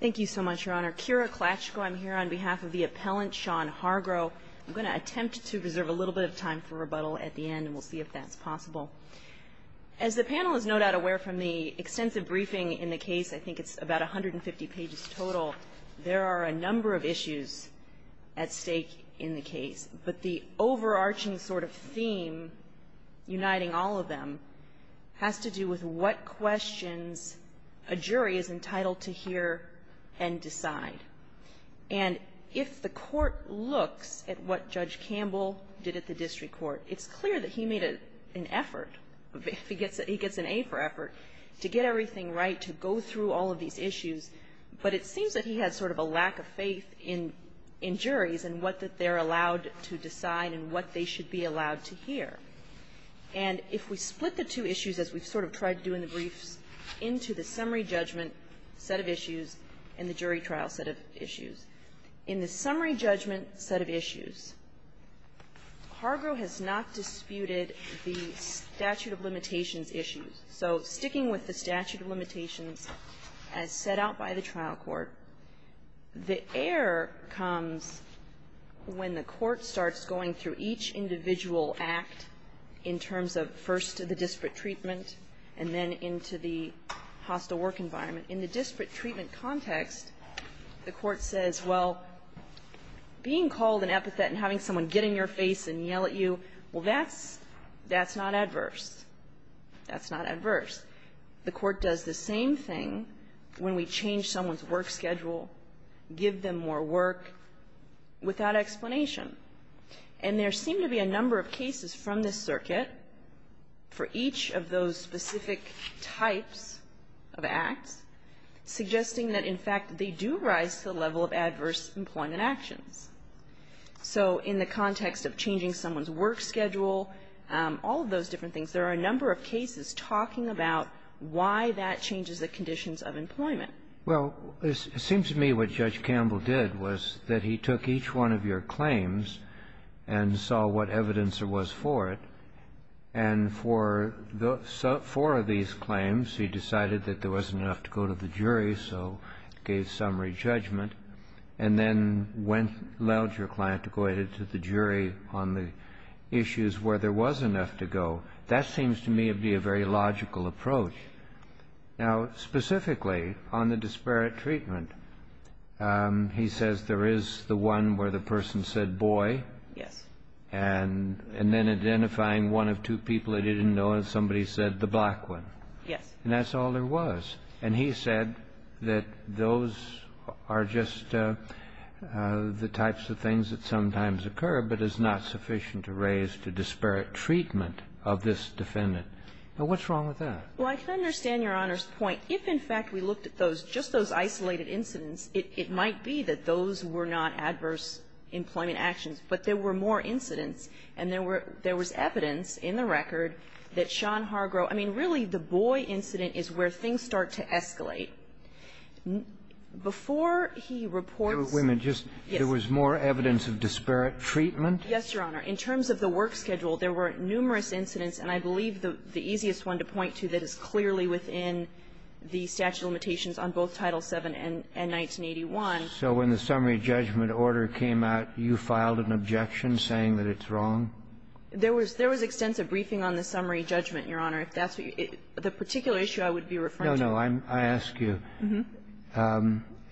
Thank you so much, Your Honor. Kira Klatchko, I'm here on behalf of the appellant, Sean Hargrow. I'm going to attempt to reserve a little bit of time for rebuttal at the end, and we'll see if that's possible. As the panel is no doubt aware from the extensive briefing in the case, I think it's about 150 pages total, there are a number of issues at stake in the case, but the overarching sort of theme uniting all of them has to do with what questions a jury is entitled to hear and decide. And if the court looks at what Judge Campbell did at the district court, it's clear that he made an effort, he gets an A for effort, to get everything right, to go through all of these issues, but it seems that he had sort of a lack of faith in juries and what they're allowed to decide and what they should be allowed to hear. And if we split the two issues, as we've sort of tried to do in the briefs, into the summary judgment set of issues and the jury trial set of issues, in the summary judgment set of issues, Hargrow has not disputed the statute of limitations issues. So sticking with the statute of limitations as set out by the trial court, the error comes when the court starts going through each individual act in terms of first the disparate treatment and then into the hostile work environment. In the disparate treatment context, the court says, well, being called an epithet and having someone get in your face and yell at you, well, that's not adverse. That's not adverse. The court does the same thing when we change someone's work schedule, give them more work, without explanation. And there seem to be a number of cases from this circuit for each of those specific types of acts suggesting that, in fact, they do rise to the level of adverse employment actions. So in the context of changing someone's work schedule, all of those different things, there are a number of cases talking about why that changes the conditions of employment. Well, it seems to me what Judge Campbell did was that he took each one of your claims and saw what evidence there was for it, and for the four of these claims, he decided that there wasn't enough to go to the jury, so gave summary judgment, and then went to the jury on the issues where there was enough to go. That seems to me to be a very logical approach. Now, specifically on the disparate treatment, he says there is the one where the person said boy. Yes. And then identifying one of two people that he didn't know, and somebody said the black Yes. And that's all there was. And he said that those are just the types of things that sometimes occur, but is not sufficient to raise the disparate treatment of this defendant. Now, what's wrong with that? Well, I can understand Your Honor's point. If, in fact, we looked at those, just those isolated incidents, it might be that those were not adverse employment actions. But there were more incidents, and there was evidence in the record that Sean Hargrove was a boy, so, I mean, really, the boy incident is where things start to escalate. Before he reports Yes. Wait a minute. There was more evidence of disparate treatment? Yes, Your Honor. In terms of the work schedule, there were numerous incidents, and I believe the easiest one to point to that is clearly within the statute of limitations on both Title VII and 1981. So when the summary judgment order came out, you filed an objection saying that it's wrong? There was extensive briefing on the summary judgment, Your Honor. If that's what you – the particular issue I would be referring to. No, no. I ask you,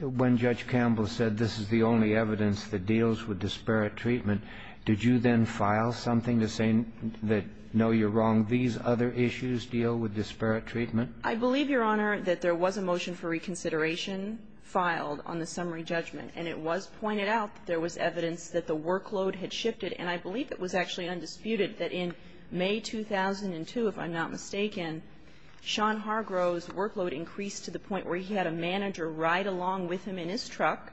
when Judge Campbell said this is the only evidence that deals with disparate treatment, did you then file something to say that, no, you're wrong, these other issues deal with disparate treatment? I believe, Your Honor, that there was a motion for reconsideration filed on the summary judgment, and it was pointed out that there was evidence that the workload had shifted, and I believe it was actually undisputed that in May 2002, if I'm not mistaken, Sean Hargrove's workload increased to the point where he had a manager ride along with him in his truck,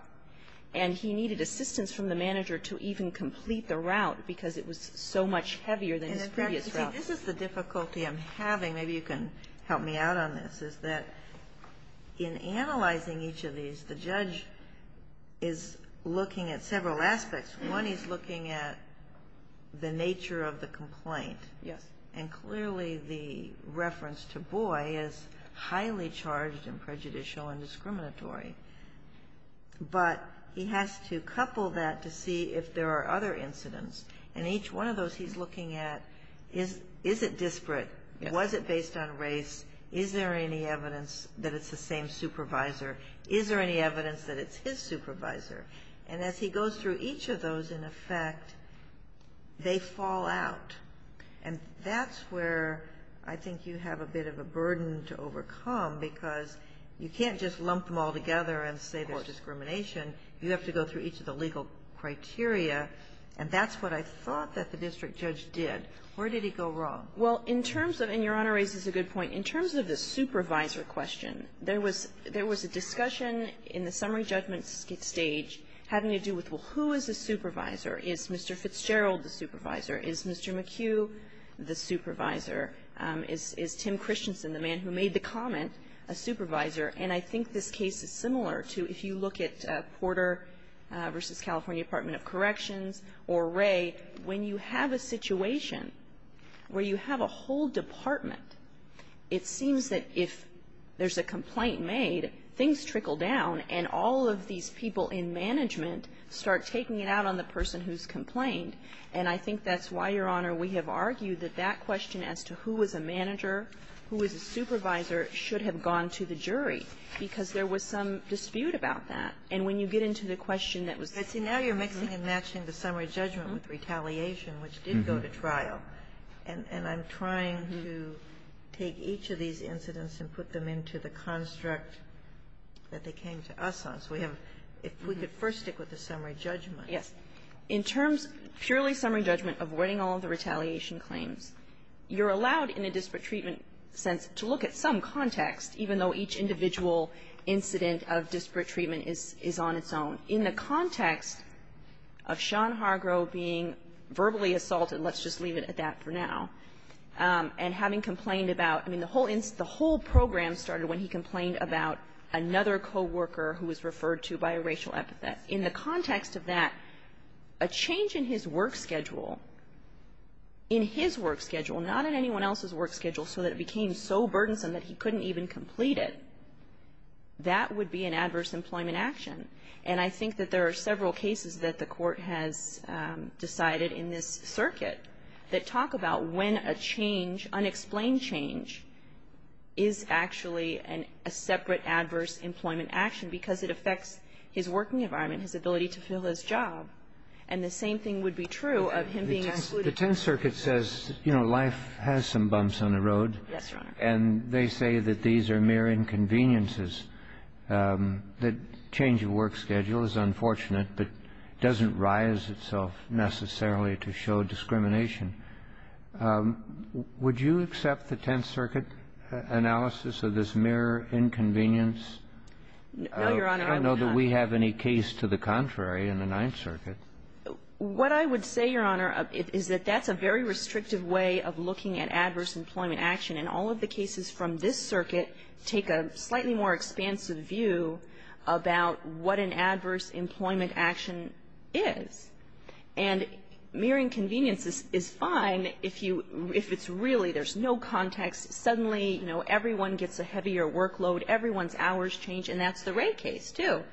and he needed assistance from the manager to even complete the route because it was so much heavier than his previous route. And, in fact, you see, this is the difficulty I'm having. Maybe you can help me out on this, is that in analyzing each of these, the judge is looking at several aspects. One, he's looking at the nature of the complaint. And, clearly, the reference to boy is highly charged and prejudicial and discriminatory. But he has to couple that to see if there are other incidents. And each one of those he's looking at, is it disparate? Was it based on race? Is there any evidence that it's the same supervisor? Is there any evidence that it's his supervisor? And as he goes through each of those, in effect, they fall out. And that's where I think you have a bit of a burden to overcome, because you can't just lump them all together and say there's discrimination. You have to go through each of the legal criteria, and that's what I thought that the district judge did. Where did he go wrong? Well, in terms of, and Your Honor raises a good point, in terms of the supervisor question, there was a discussion in the summary judgment stage having to do with, well, who is the supervisor? Is Mr. Fitzgerald the supervisor? Is Mr. McHugh the supervisor? Is Tim Christensen, the man who made the comment, a supervisor? And I think this case is similar to if you look at Porter v. California Department of Corrections or Ray, when you have a situation where you have a whole department, it seems that if there's a complaint made, things trickle down, and all of these people in management start taking it out on the person who's complained. And I think that's why, Your Honor, we have argued that that question as to who was a manager, who was a supervisor, should have gone to the jury, because there was some dispute about that. And when you get into the question that was ---- Kagan. Now you're mixing and matching the summary judgment with retaliation, which did go to take each of these incidents and put them into the construct that they came to us on. So we have ---- if we could first stick with the summary judgment. Yes. In terms, purely summary judgment, avoiding all of the retaliation claims, you're allowed in a disparate treatment sense to look at some context, even though each individual incident of disparate treatment is on its own. In the context of Sean Hargrove being verbally assaulted, let's just leave it at that for now, and having complained about, I mean, the whole program started when he complained about another coworker who was referred to by a racial epithet. In the context of that, a change in his work schedule, in his work schedule, not in anyone else's work schedule, so that it became so burdensome that he couldn't even complete it, that would be an adverse employment action. And I think that there are several cases that the Court has decided in this circuit that talk about when a change, unexplained change, is actually a separate adverse employment action because it affects his working environment, his ability to fill his job, and the same thing would be true of him being ---- The Tenth Circuit says, you know, life has some bumps on the road. Yes, Your Honor. And they say that these are mere inconveniences, that change of work schedule is unfortunate but doesn't rise itself necessarily to show discrimination. Would you accept the Tenth Circuit analysis of this mere inconvenience? No, Your Honor. I don't know that we have any case to the contrary in the Ninth Circuit. What I would say, Your Honor, is that that's a very restrictive way of looking at adverse employment action, and all of the cases from this circuit take a slightly more expansive view about what an adverse employment action is. And mere inconvenience is fine if you ---- if it's really, there's no context, suddenly, you know, everyone gets a heavier workload, everyone's hours change, and that's the Wray case, too.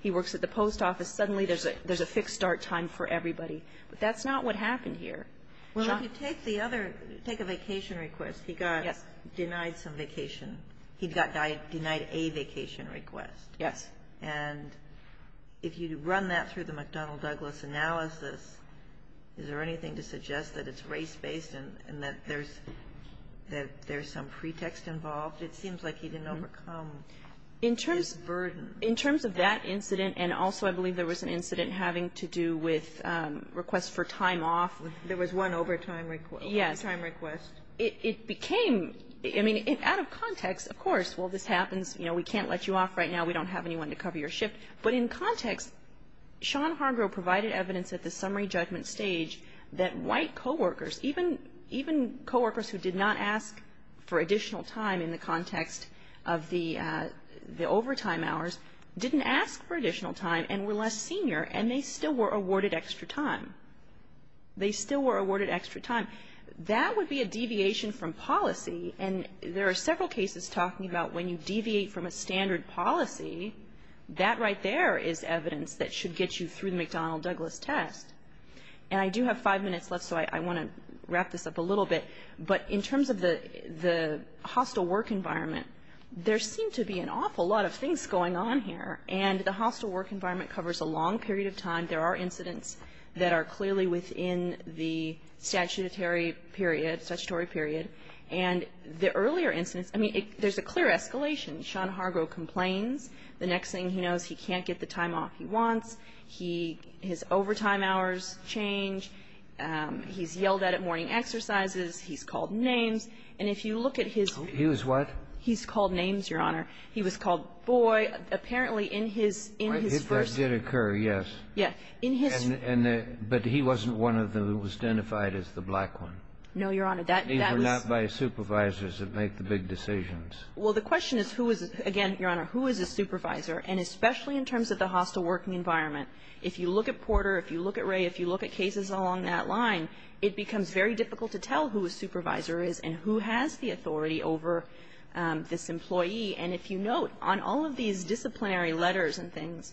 He works at the post office. Suddenly, there's a fixed start time for everybody. But that's not what happened here. Well, if you take the other, take a vacation request. He got denied some vacation. He got denied a vacation request. Yes. And if you run that through the McDonnell-Douglas analysis, is there anything to suggest that it's race-based and that there's some pretext involved? It seems like he didn't overcome this burden. In terms of that incident, and also I believe there was an incident having to do with a request for time off. There was one overtime request. Yes. It became, I mean, out of context, of course, well, this happens, you know, we can't let you off right now, we don't have anyone to cover your shift. But in context, Sean Hargrove provided evidence at the summary judgment stage that white coworkers, even coworkers who did not ask for additional time in the context of the overtime hours, didn't ask for additional time and were less senior, and they still were awarded extra time. They still were awarded extra time. That would be a deviation from policy. And there are several cases talking about when you deviate from a standard policy, that right there is evidence that should get you through the McDonnell-Douglas test. And I do have five minutes left, so I want to wrap this up a little bit. But in terms of the hostile work environment, there seemed to be an awful lot of things going on here. And the hostile work environment covers a long period of time. There are incidents that are clearly within the statutory period, statutory period. And the earlier incidents, I mean, there's a clear escalation. Sean Hargrove complains. The next thing he knows, he can't get the time off he wants. His overtime hours change. He's yelled at at morning exercises. He's called names. And if you look at his ---- He was what? He's called names, Your Honor. He was called, boy, apparently in his first ---- That did occur, yes. Yes. In his ---- But he wasn't one of them who was identified as the black one. No, Your Honor. That was ---- They were not by supervisors that make the big decisions. Well, the question is who is, again, Your Honor, who is a supervisor? And especially in terms of the hostile working environment, if you look at Porter, if you look at Ray, if you look at cases along that line, it becomes very difficult to tell who a supervisor is and who has the authority over this employee. And if you note, on all of these disciplinary letters and things,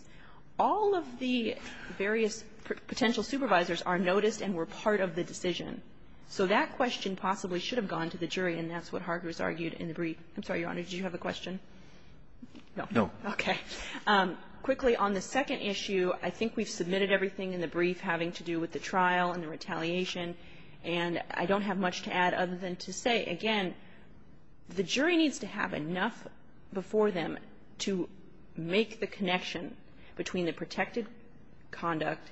all of the various potential supervisors are noticed and were part of the decision. So that question possibly should have gone to the jury, and that's what Hargreaves argued in the brief. I'm sorry, Your Honor, did you have a question? No. No. Okay. Quickly, on the second issue, I think we've submitted everything in the brief having to do with the trial and the retaliation, and I don't have much to add other than to say, again, the jury needs to have enough before them to make the connection between the protected conduct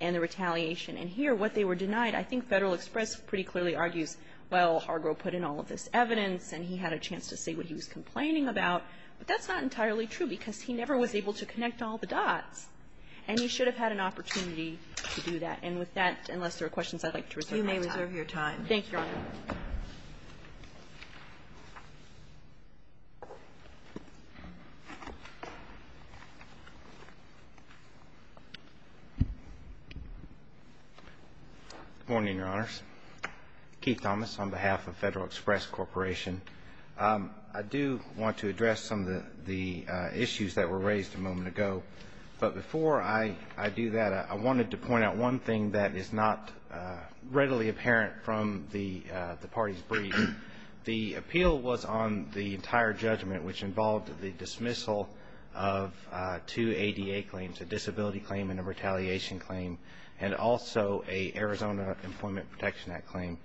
and the retaliation. And here, what they were denied, I think Federal Express pretty clearly argues, well, Hargrove put in all of this evidence and he had a chance to say what he was complaining about, but that's not entirely true because he never was able to connect all the dots, and he should have had an opportunity to do that. And with that, unless there are questions, I'd like to reserve my time. You may reserve your time. Thank you, Your Honor. Good morning, Your Honors. Keith Thomas on behalf of Federal Express Corporation. I do want to address some of the issues that were raised a moment ago, but before I do that, I wanted to point out one thing that is not readily apparent from the party's brief. The appeal was on the entire judgment, which involved the dismissal of two ADA claims, a disability claim and a retaliation claim, and also a Arizona Employment Protection Act claim.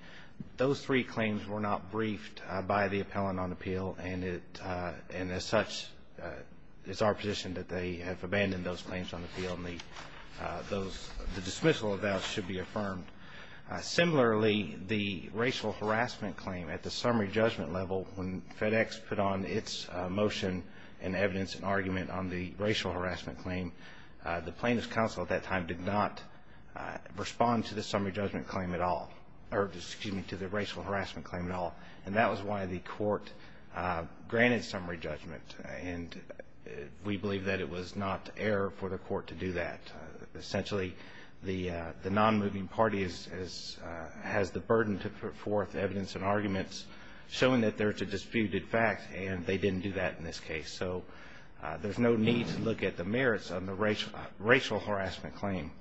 Those three claims were not briefed by the appellant on appeal, and as such, it's our position that they have abandoned those claims on appeal and the dismissal of those should be affirmed. Similarly, the racial harassment claim at the summary judgment level, when FedEx put on its motion and evidence and argument on the racial harassment claim, the plaintiff's counsel at that time did not respond to the summary judgment claim at all, or excuse me, to the racial harassment claim at all. And that was why the court granted summary judgment, and we believe that it was not error for the court to do that. Essentially, the non-moving party has the burden to put forth evidence and arguments showing that there's a disputed fact, and they didn't do that in this case. So there's no need to look at the merits of the racial harassment claim.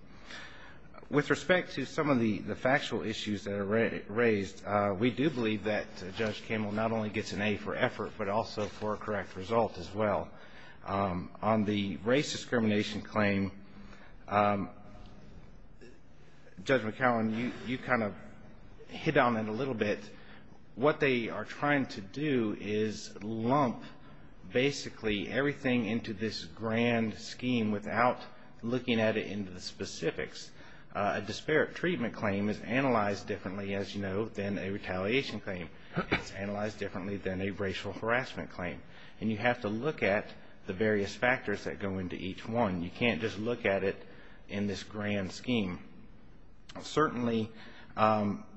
With respect to some of the factual issues that are raised, we do believe that Judge Campbell not only gets an A for effort, but also for a correct result as well. On the race discrimination claim, Judge McCallum, you kind of hit on it a little bit. What they are trying to do is lump basically everything into this grand scheme without looking at it in the specifics. A disparate treatment claim is analyzed differently, as you know, than a retaliation claim. It's analyzed differently than a racial harassment claim. And you have to look at the various factors that go into each one. You can't just look at it in this grand scheme. Certainly,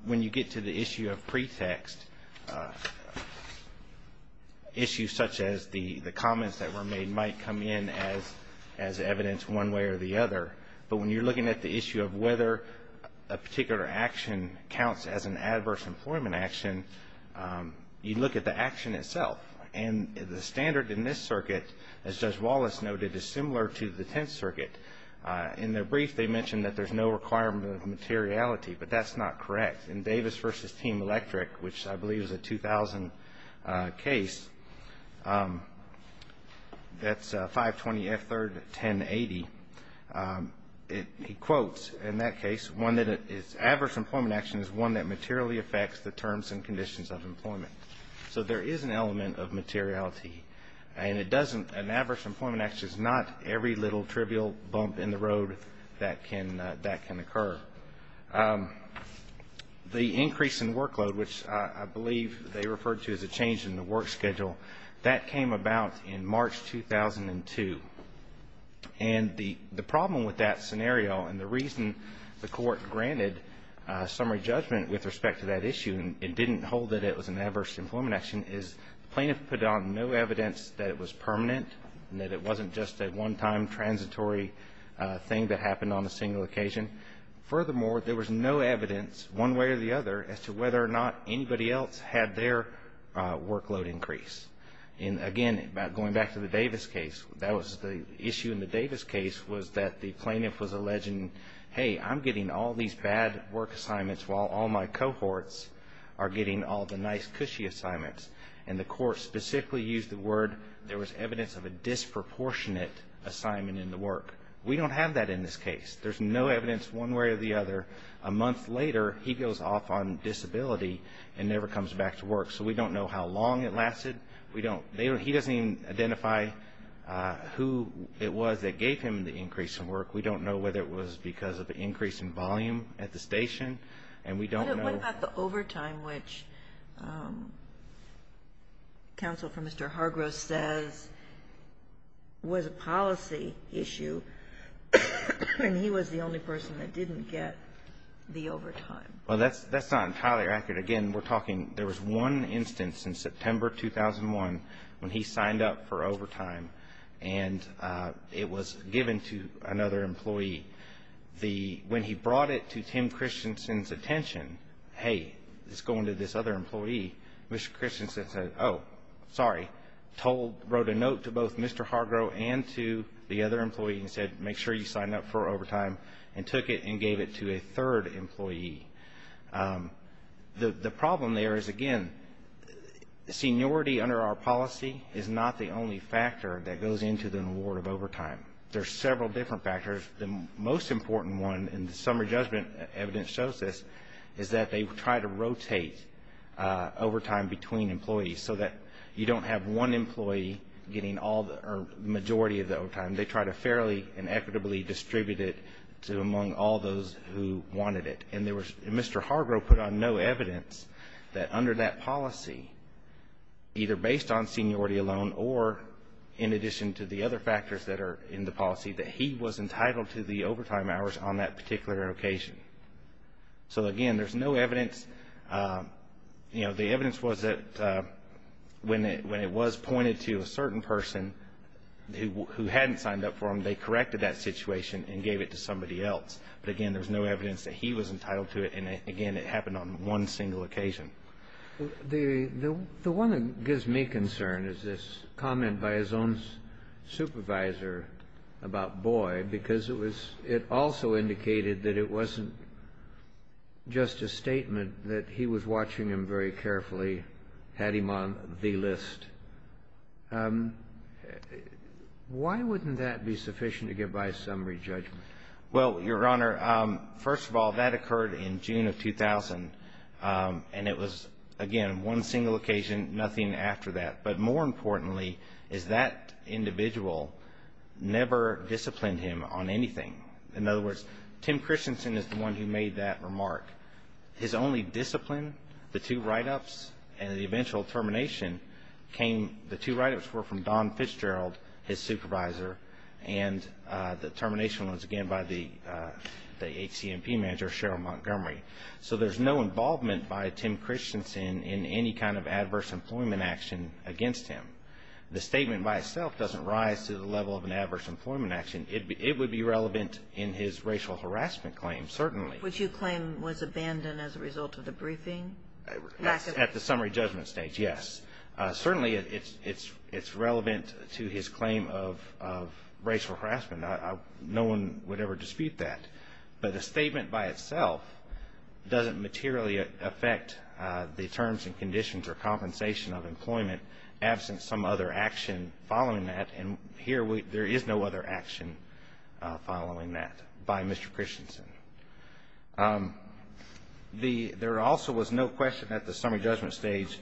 when you get to the issue of pretext, issues such as the comments that were made might come in as evidence one way or the other. But when you're looking at the issue of whether a particular action counts as an adverse employment action, you look at the action itself. And the standard in this circuit, as Judge Wallace noted, is similar to the Tenth Circuit. In their brief, they mentioned that there's no requirement of materiality, but that's not correct. In Davis v. Team Electric, which I believe is a 2000 case, that's 520F3-1080, he quotes in that case, one that is adverse employment action is one that materially affects the terms and conditions of employment. So there is an element of materiality. An adverse employment action is not every little trivial bump in the road that can occur. The increase in workload, which I believe they referred to as a change in the work schedule, that came about in March 2002. And the problem with that scenario and the reason the Court granted summary judgment with respect to that issue and didn't hold that it was an adverse employment action is the plaintiff put on no evidence that it was permanent and that it wasn't just a one-time transitory thing that happened on a single occasion. Furthermore, there was no evidence one way or the other as to whether or not anybody else had their workload increase. And again, going back to the Davis case, that was the issue in the Davis case was that the plaintiff was alleging, hey, I'm getting all these bad work assignments while all my cohorts are getting all the nice cushy assignments. And the Court specifically used the word there was evidence of a disproportionate assignment in the work. We don't have that in this case. There's no evidence one way or the other. A month later, he goes off on disability and never comes back to work. So we don't know how long it lasted. He doesn't even identify who it was that gave him the increase in work. We don't know whether it was because of the increase in volume at the station, and we don't know. What about the overtime, which counsel for Mr. Hargrove says was a policy issue and he was the only person that didn't get the overtime? Well, that's not entirely accurate. Again, we're talking there was one instance in September 2001 when he signed up for overtime, and it was given to another employee. When he brought it to Tim Christensen's attention, hey, it's going to this other employee, Mr. Christensen said, oh, sorry, wrote a note to both Mr. Hargrove and to the other employee and said, make sure you sign up for overtime, and took it and gave it to a third employee. The problem there is, again, seniority under our policy is not the only factor that goes into the reward of overtime. There are several different factors. The most important one, and the summary judgment evidence shows this, is that they try to rotate overtime between employees so that you don't have one employee getting the majority of the overtime. They try to fairly and equitably distribute it among all those who wanted it, and Mr. Hargrove put on no evidence that under that policy, either based on seniority alone or in addition to the other factors that are in the policy, that he was entitled to the overtime hours on that particular occasion. So, again, there's no evidence. You know, the evidence was that when it was pointed to a certain person who hadn't signed up for them, they corrected that situation and gave it to somebody else. But, again, there's no evidence that he was entitled to it. And, again, it happened on one single occasion. The one that gives me concern is this comment by his own supervisor about Boyd because it also indicated that it wasn't just a statement that he was watching him very carefully, had him on the list. Why wouldn't that be sufficient to give by summary judgment? Well, Your Honor, first of all, that occurred in June of 2000, and it was, again, one single occasion, nothing after that. But more importantly is that individual never disciplined him on anything. In other words, Tim Christensen is the one who made that remark. His only discipline, the two write-ups, and the eventual termination came – the two write-ups were from Don Fitzgerald, his supervisor, and the termination was, again, by the HCMP manager, Cheryl Montgomery. So there's no involvement by Tim Christensen in any kind of adverse employment action against him. The statement by itself doesn't rise to the level of an adverse employment action. It would be relevant in his racial harassment claim, certainly. Which you claim was abandoned as a result of the briefing? At the summary judgment stage, yes. Certainly it's relevant to his claim of racial harassment. No one would ever dispute that. But the statement by itself doesn't materially affect the terms and conditions or compensation of employment, absent some other action following that, and here there is no other action following that by Mr. Christensen. There also was no question at the summary judgment stage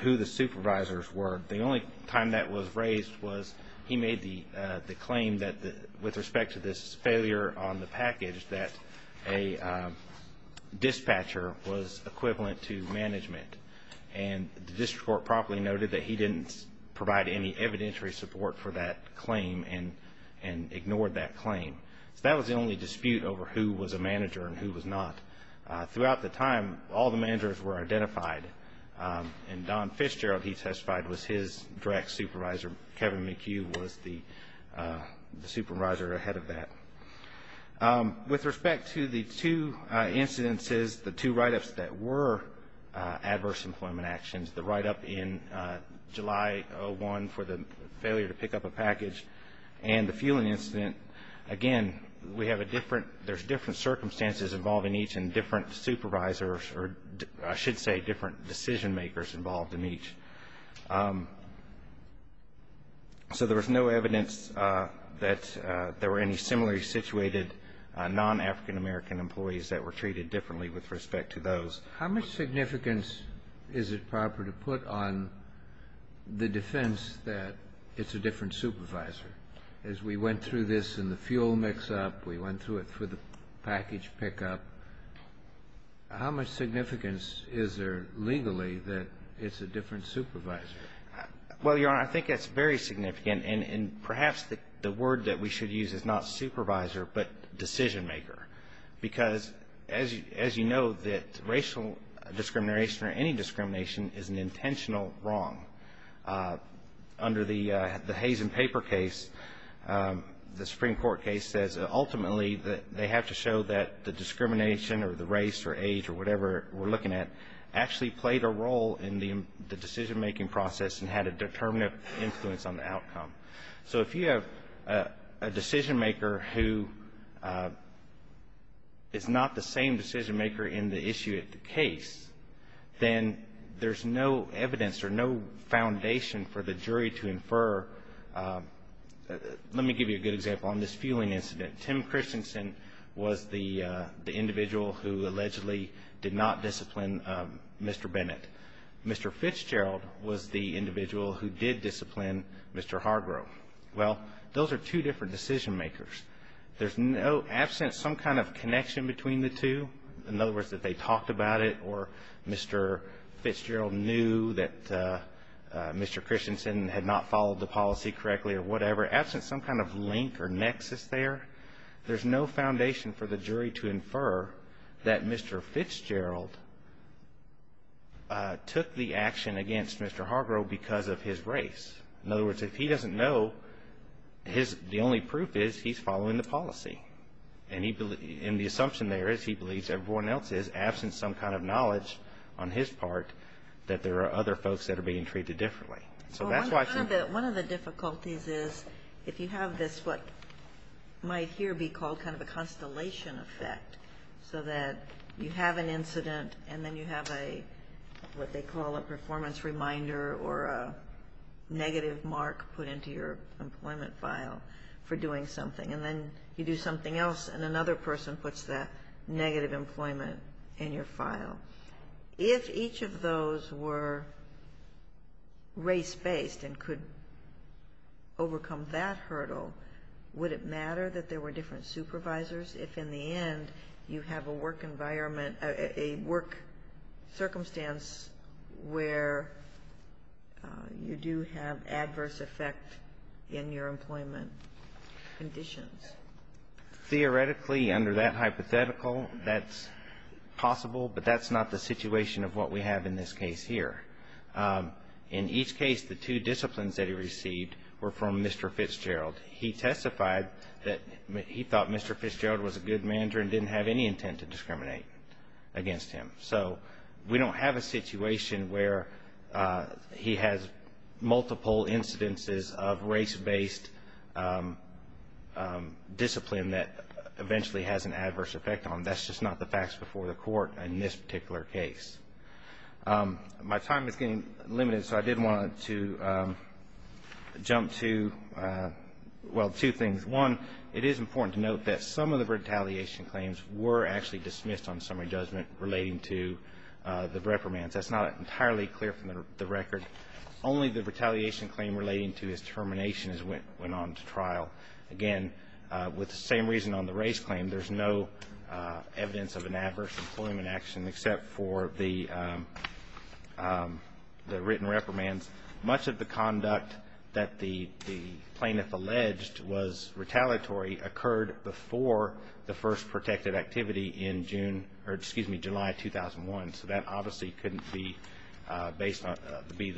who the supervisors were. The only time that was raised was he made the claim that with respect to this failure on the package that a dispatcher was equivalent to management, and the district court properly noted that he didn't provide any evidentiary support for that claim and ignored that claim. So that was the only dispute over who was a manager and who was not. Throughout the time, all the managers were identified, and Don Fitzgerald, he testified, was his direct supervisor. Kevin McHugh was the supervisor ahead of that. With respect to the two incidences, the two write-ups that were adverse employment actions, the write-up in July of 1 for the failure to pick up a package and the fueling incident, again, we have a different — there's different circumstances involving each and different supervisors or I should say different decision-makers involved in each. So there was no evidence that there were any similarly situated non-African-American employees that were treated differently with respect to those. Kennedy. How much significance is it proper to put on the defense that it's a different supervisor? As we went through this in the fuel mix-up, we went through it for the package pickup, how much significance is there legally that it's a different supervisor? Well, Your Honor, I think that's very significant, and perhaps the word that we should use is not supervisor but decision-maker, because as you know that racial discrimination or any discrimination is an intentional wrong. Under the Hayes and Paper case, the Supreme Court case says ultimately they have to show that the discrimination or the race or age or whatever we're looking at actually played a role in the decision-making process and had a determinative influence on the outcome. So if you have a decision-maker who is not the same decision-maker in the issue at the case, then there's no evidence or no foundation for the jury to infer. Let me give you a good example. On this fueling incident, Tim Christensen was the individual who allegedly did not discipline Mr. Bennett. Mr. Fitzgerald was the individual who did discipline Mr. Hargrove. Well, those are two different decision-makers. Absent some kind of connection between the two, in other words, that they talked about it or Mr. Fitzgerald knew that Mr. Christensen had not followed the policy correctly or whatever, absent some kind of link or nexus there, there's no foundation for the jury to infer that Mr. Fitzgerald took the action against Mr. Hargrove because of his race. In other words, if he doesn't know, the only proof is he's following the policy. And the assumption there is he believes everyone else is, absent some kind of knowledge on his part, that there are other folks that are being treated differently. One of the difficulties is if you have this, what might here be called kind of a constellation effect, so that you have an incident and then you have a, what they call a performance reminder or a negative mark put into your employment file for doing something, and then you do something else and another person puts that negative employment in your file. If each of those were race-based and could overcome that hurdle, would it matter that there were different supervisors if in the end you have a work environment, a work circumstance where you do have adverse effect in your employment conditions? Theoretically, under that hypothetical, that's possible, but that's not the situation of what we have in this case here. In each case, the two disciplines that he received were from Mr. Fitzgerald. He testified that he thought Mr. Fitzgerald was a good manager and didn't have any intent to discriminate against him. So we don't have a situation where he has multiple incidences of race-based discipline that eventually has an adverse effect on him. That's just not the facts before the court in this particular case. My time is getting limited, so I did want to jump to, well, two things. One, it is important to note that some of the retaliation claims were actually dismissed on summary judgment relating to the reprimands. That's not entirely clear from the record. Only the retaliation claim relating to his termination went on to trial. Again, with the same reason on the race claim, there's no evidence of an adverse employment action except for the written reprimands. Much of the conduct that the plaintiff alleged was retaliatory occurred before the first protected activity in July 2001. So that obviously couldn't be the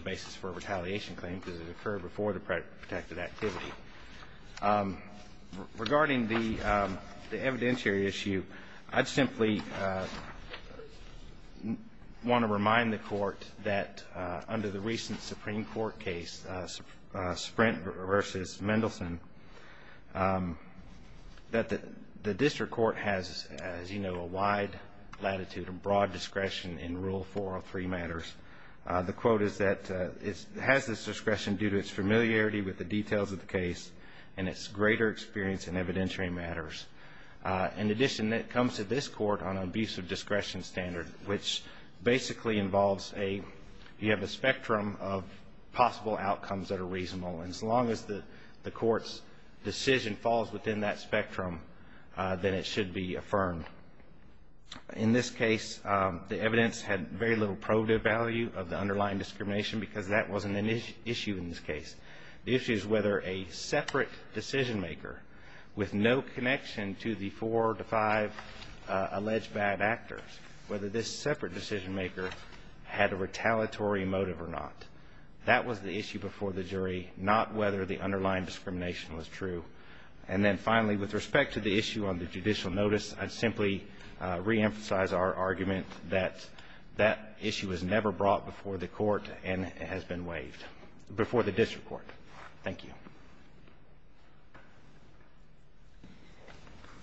basis for a retaliation claim because it occurred before the protected activity. Regarding the evidentiary issue, I'd simply want to remind the Court that under the recent Supreme Court case, Sprint v. Mendelson, that the district court has, as you know, a wide latitude and broad discretion in Rule 403 matters. The quote is that it has this discretion due to its familiarity with the details of the case and its greater experience in evidentiary matters. In addition, it comes to this court on an abusive discretion standard, which basically involves you have a spectrum of possible outcomes that are reasonable, and as long as the court's decision falls within that spectrum, then it should be affirmed. In this case, the evidence had very little probative value of the underlying discrimination because that wasn't an issue in this case. The issue is whether a separate decision-maker with no connection to the four to five alleged bad actors, whether this separate decision-maker had a retaliatory motive or not. That was the issue before the jury, not whether the underlying discrimination was true. And then finally, with respect to the issue on the judicial notice, I'd simply reemphasize our argument that that issue was never brought before the court and has been waived before the district court. Thank you.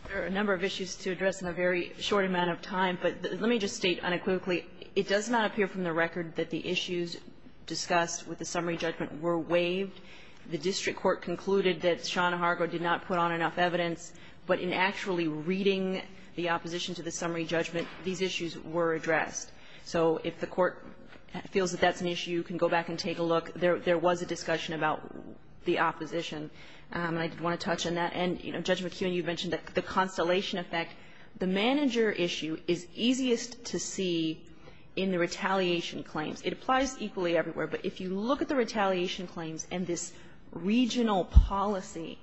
There are a number of issues to address in a very short amount of time, but let me just state unequivocally, it does not appear from the record that the issues discussed with the summary judgment were waived. The district court concluded that Shauna Hargrove did not put on enough evidence, but in actually reading the opposition to the summary judgment, these issues were addressed. So if the court feels that that's an issue, you can go back and take a look. There was a discussion about the opposition, and I did want to touch on that. And, you know, Judge McKeon, you mentioned the constellation effect. The manager issue is easiest to see in the retaliation claims. It applies equally everywhere. But if you look at the retaliation claims and this regional policy,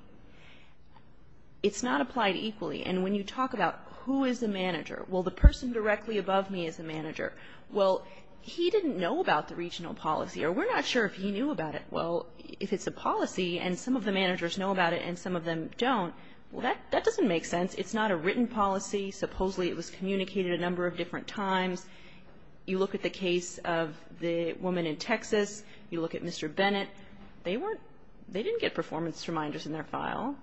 it's not applied equally. And when you talk about who is the manager, well, the person directly above me is the manager. Well, he didn't know about the regional policy, or we're not sure if he knew about it. Well, if it's a policy and some of the managers know about it and some of them don't, well, that doesn't make sense. It's not a written policy. Supposedly, it was communicated a number of different times. You look at the case of the woman in Texas. You look at Mr. Bennett. They weren't they didn't get performance reminders in their file.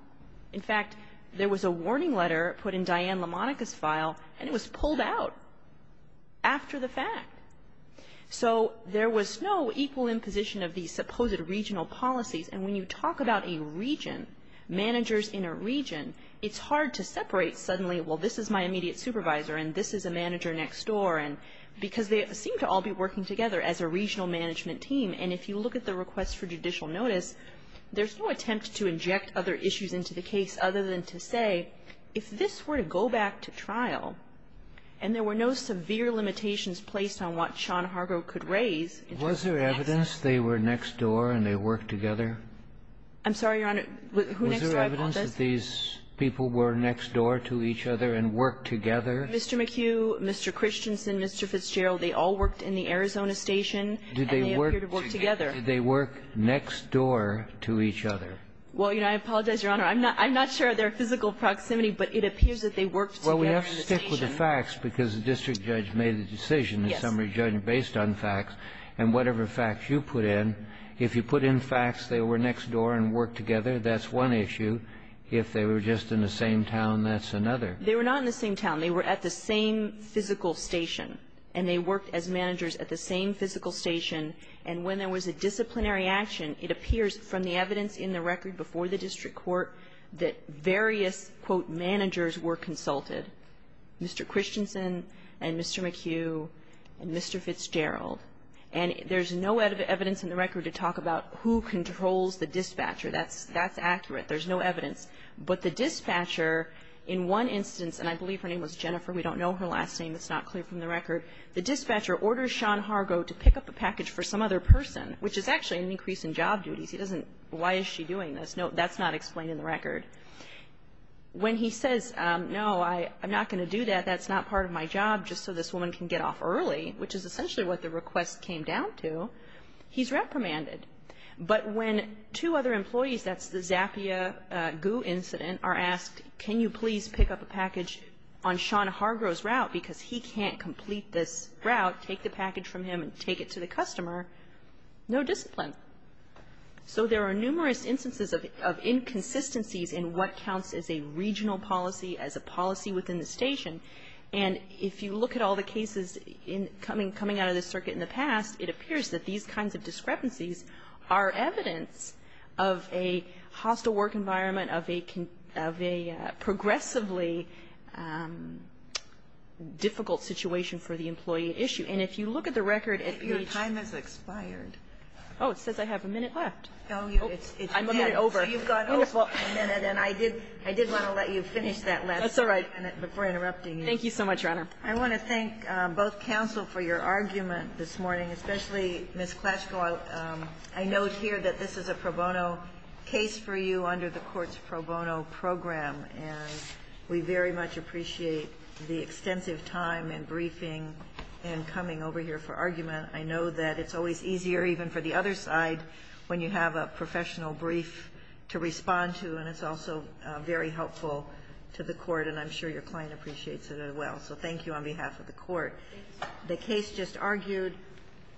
In fact, there was a warning letter put in Diane LaMonica's file, and it was pulled out after the fact. So there was no equal imposition of these supposed regional policies. And when you talk about a region, managers in a region, it's hard to separate suddenly, well, this is my immediate supervisor and this is a manager next door, because they seem to all be working together as a regional management team. And if you look at the request for judicial notice, there's no attempt to inject other issues into the case other than to say, if this were to go back to trial and there were no severe limitations placed on what Sean Hargrove could raise. Was there evidence they were next door and they worked together? I'm sorry, Your Honor. Who next door? I apologize. Was there evidence that these people were next door to each other and worked together? Mr. McHugh, Mr. Christensen, Mr. Fitzgerald, they all worked in the Arizona station and they appeared to work together. Did they work next door to each other? Well, you know, I apologize, Your Honor. I'm not sure of their physical proximity, but it appears that they worked together in the station. Well, we have to stick with the facts because the district judge made the decision, the summary judge, based on facts. And whatever facts you put in, if you put in facts they were next door and worked together, that's one issue. If they were just in the same town, that's another. They were not in the same town. They were at the same physical station and they worked as managers at the same physical station. And when there was a disciplinary action, it appears from the evidence in the record before the district court that various, quote, managers were consulted, Mr. Christensen and Mr. McHugh and Mr. Fitzgerald. And there's no evidence in the record to talk about who controls the dispatcher. That's accurate. There's no evidence. But the dispatcher, in one instance, and I believe her name was Jennifer. We don't know her last name. It's not clear from the record. The dispatcher orders Sean Hargrove to pick up a package for some other person, which is actually an increase in job duties. He doesn't, why is she doing this? No, that's not explained in the record. When he says, no, I'm not going to do that, that's not part of my job, just so this woman can get off early, which is essentially what the request came down to, he's reprimanded. But when two other employees, that's the Zappia-Gu incident, are asked, can you please pick up a package on Sean Hargrove's route because he can't complete this route, take the package from him and take it to the customer, no discipline. So there are numerous instances of inconsistencies in what counts as a regional policy, as a policy within the station. And if you look at all the cases coming out of this circuit in the past, it appears that these kinds of discrepancies are evidence of a hostile work environment, of a progressively difficult situation for the employee at issue. And if you look at the record at page ---- Your time has expired. Oh, it says I have a minute left. Oh, I'm a minute over. So you've got over a minute, and I did want to let you finish that last minute before interrupting you. Thank you so much, Your Honor. I want to thank both counsel for your argument this morning, especially Ms. Klatchko. I note here that this is a pro bono case for you under the court's pro bono program. And we very much appreciate the extensive time and briefing and coming over here for argument. I know that it's always easier even for the other side when you have a professional brief to respond to, and it's also very helpful to the court. And I'm sure your client appreciates it as well. So thank you on behalf of the court. The case just argued.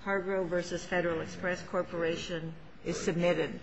Hargrove v. Federal Express Corporation is submitted.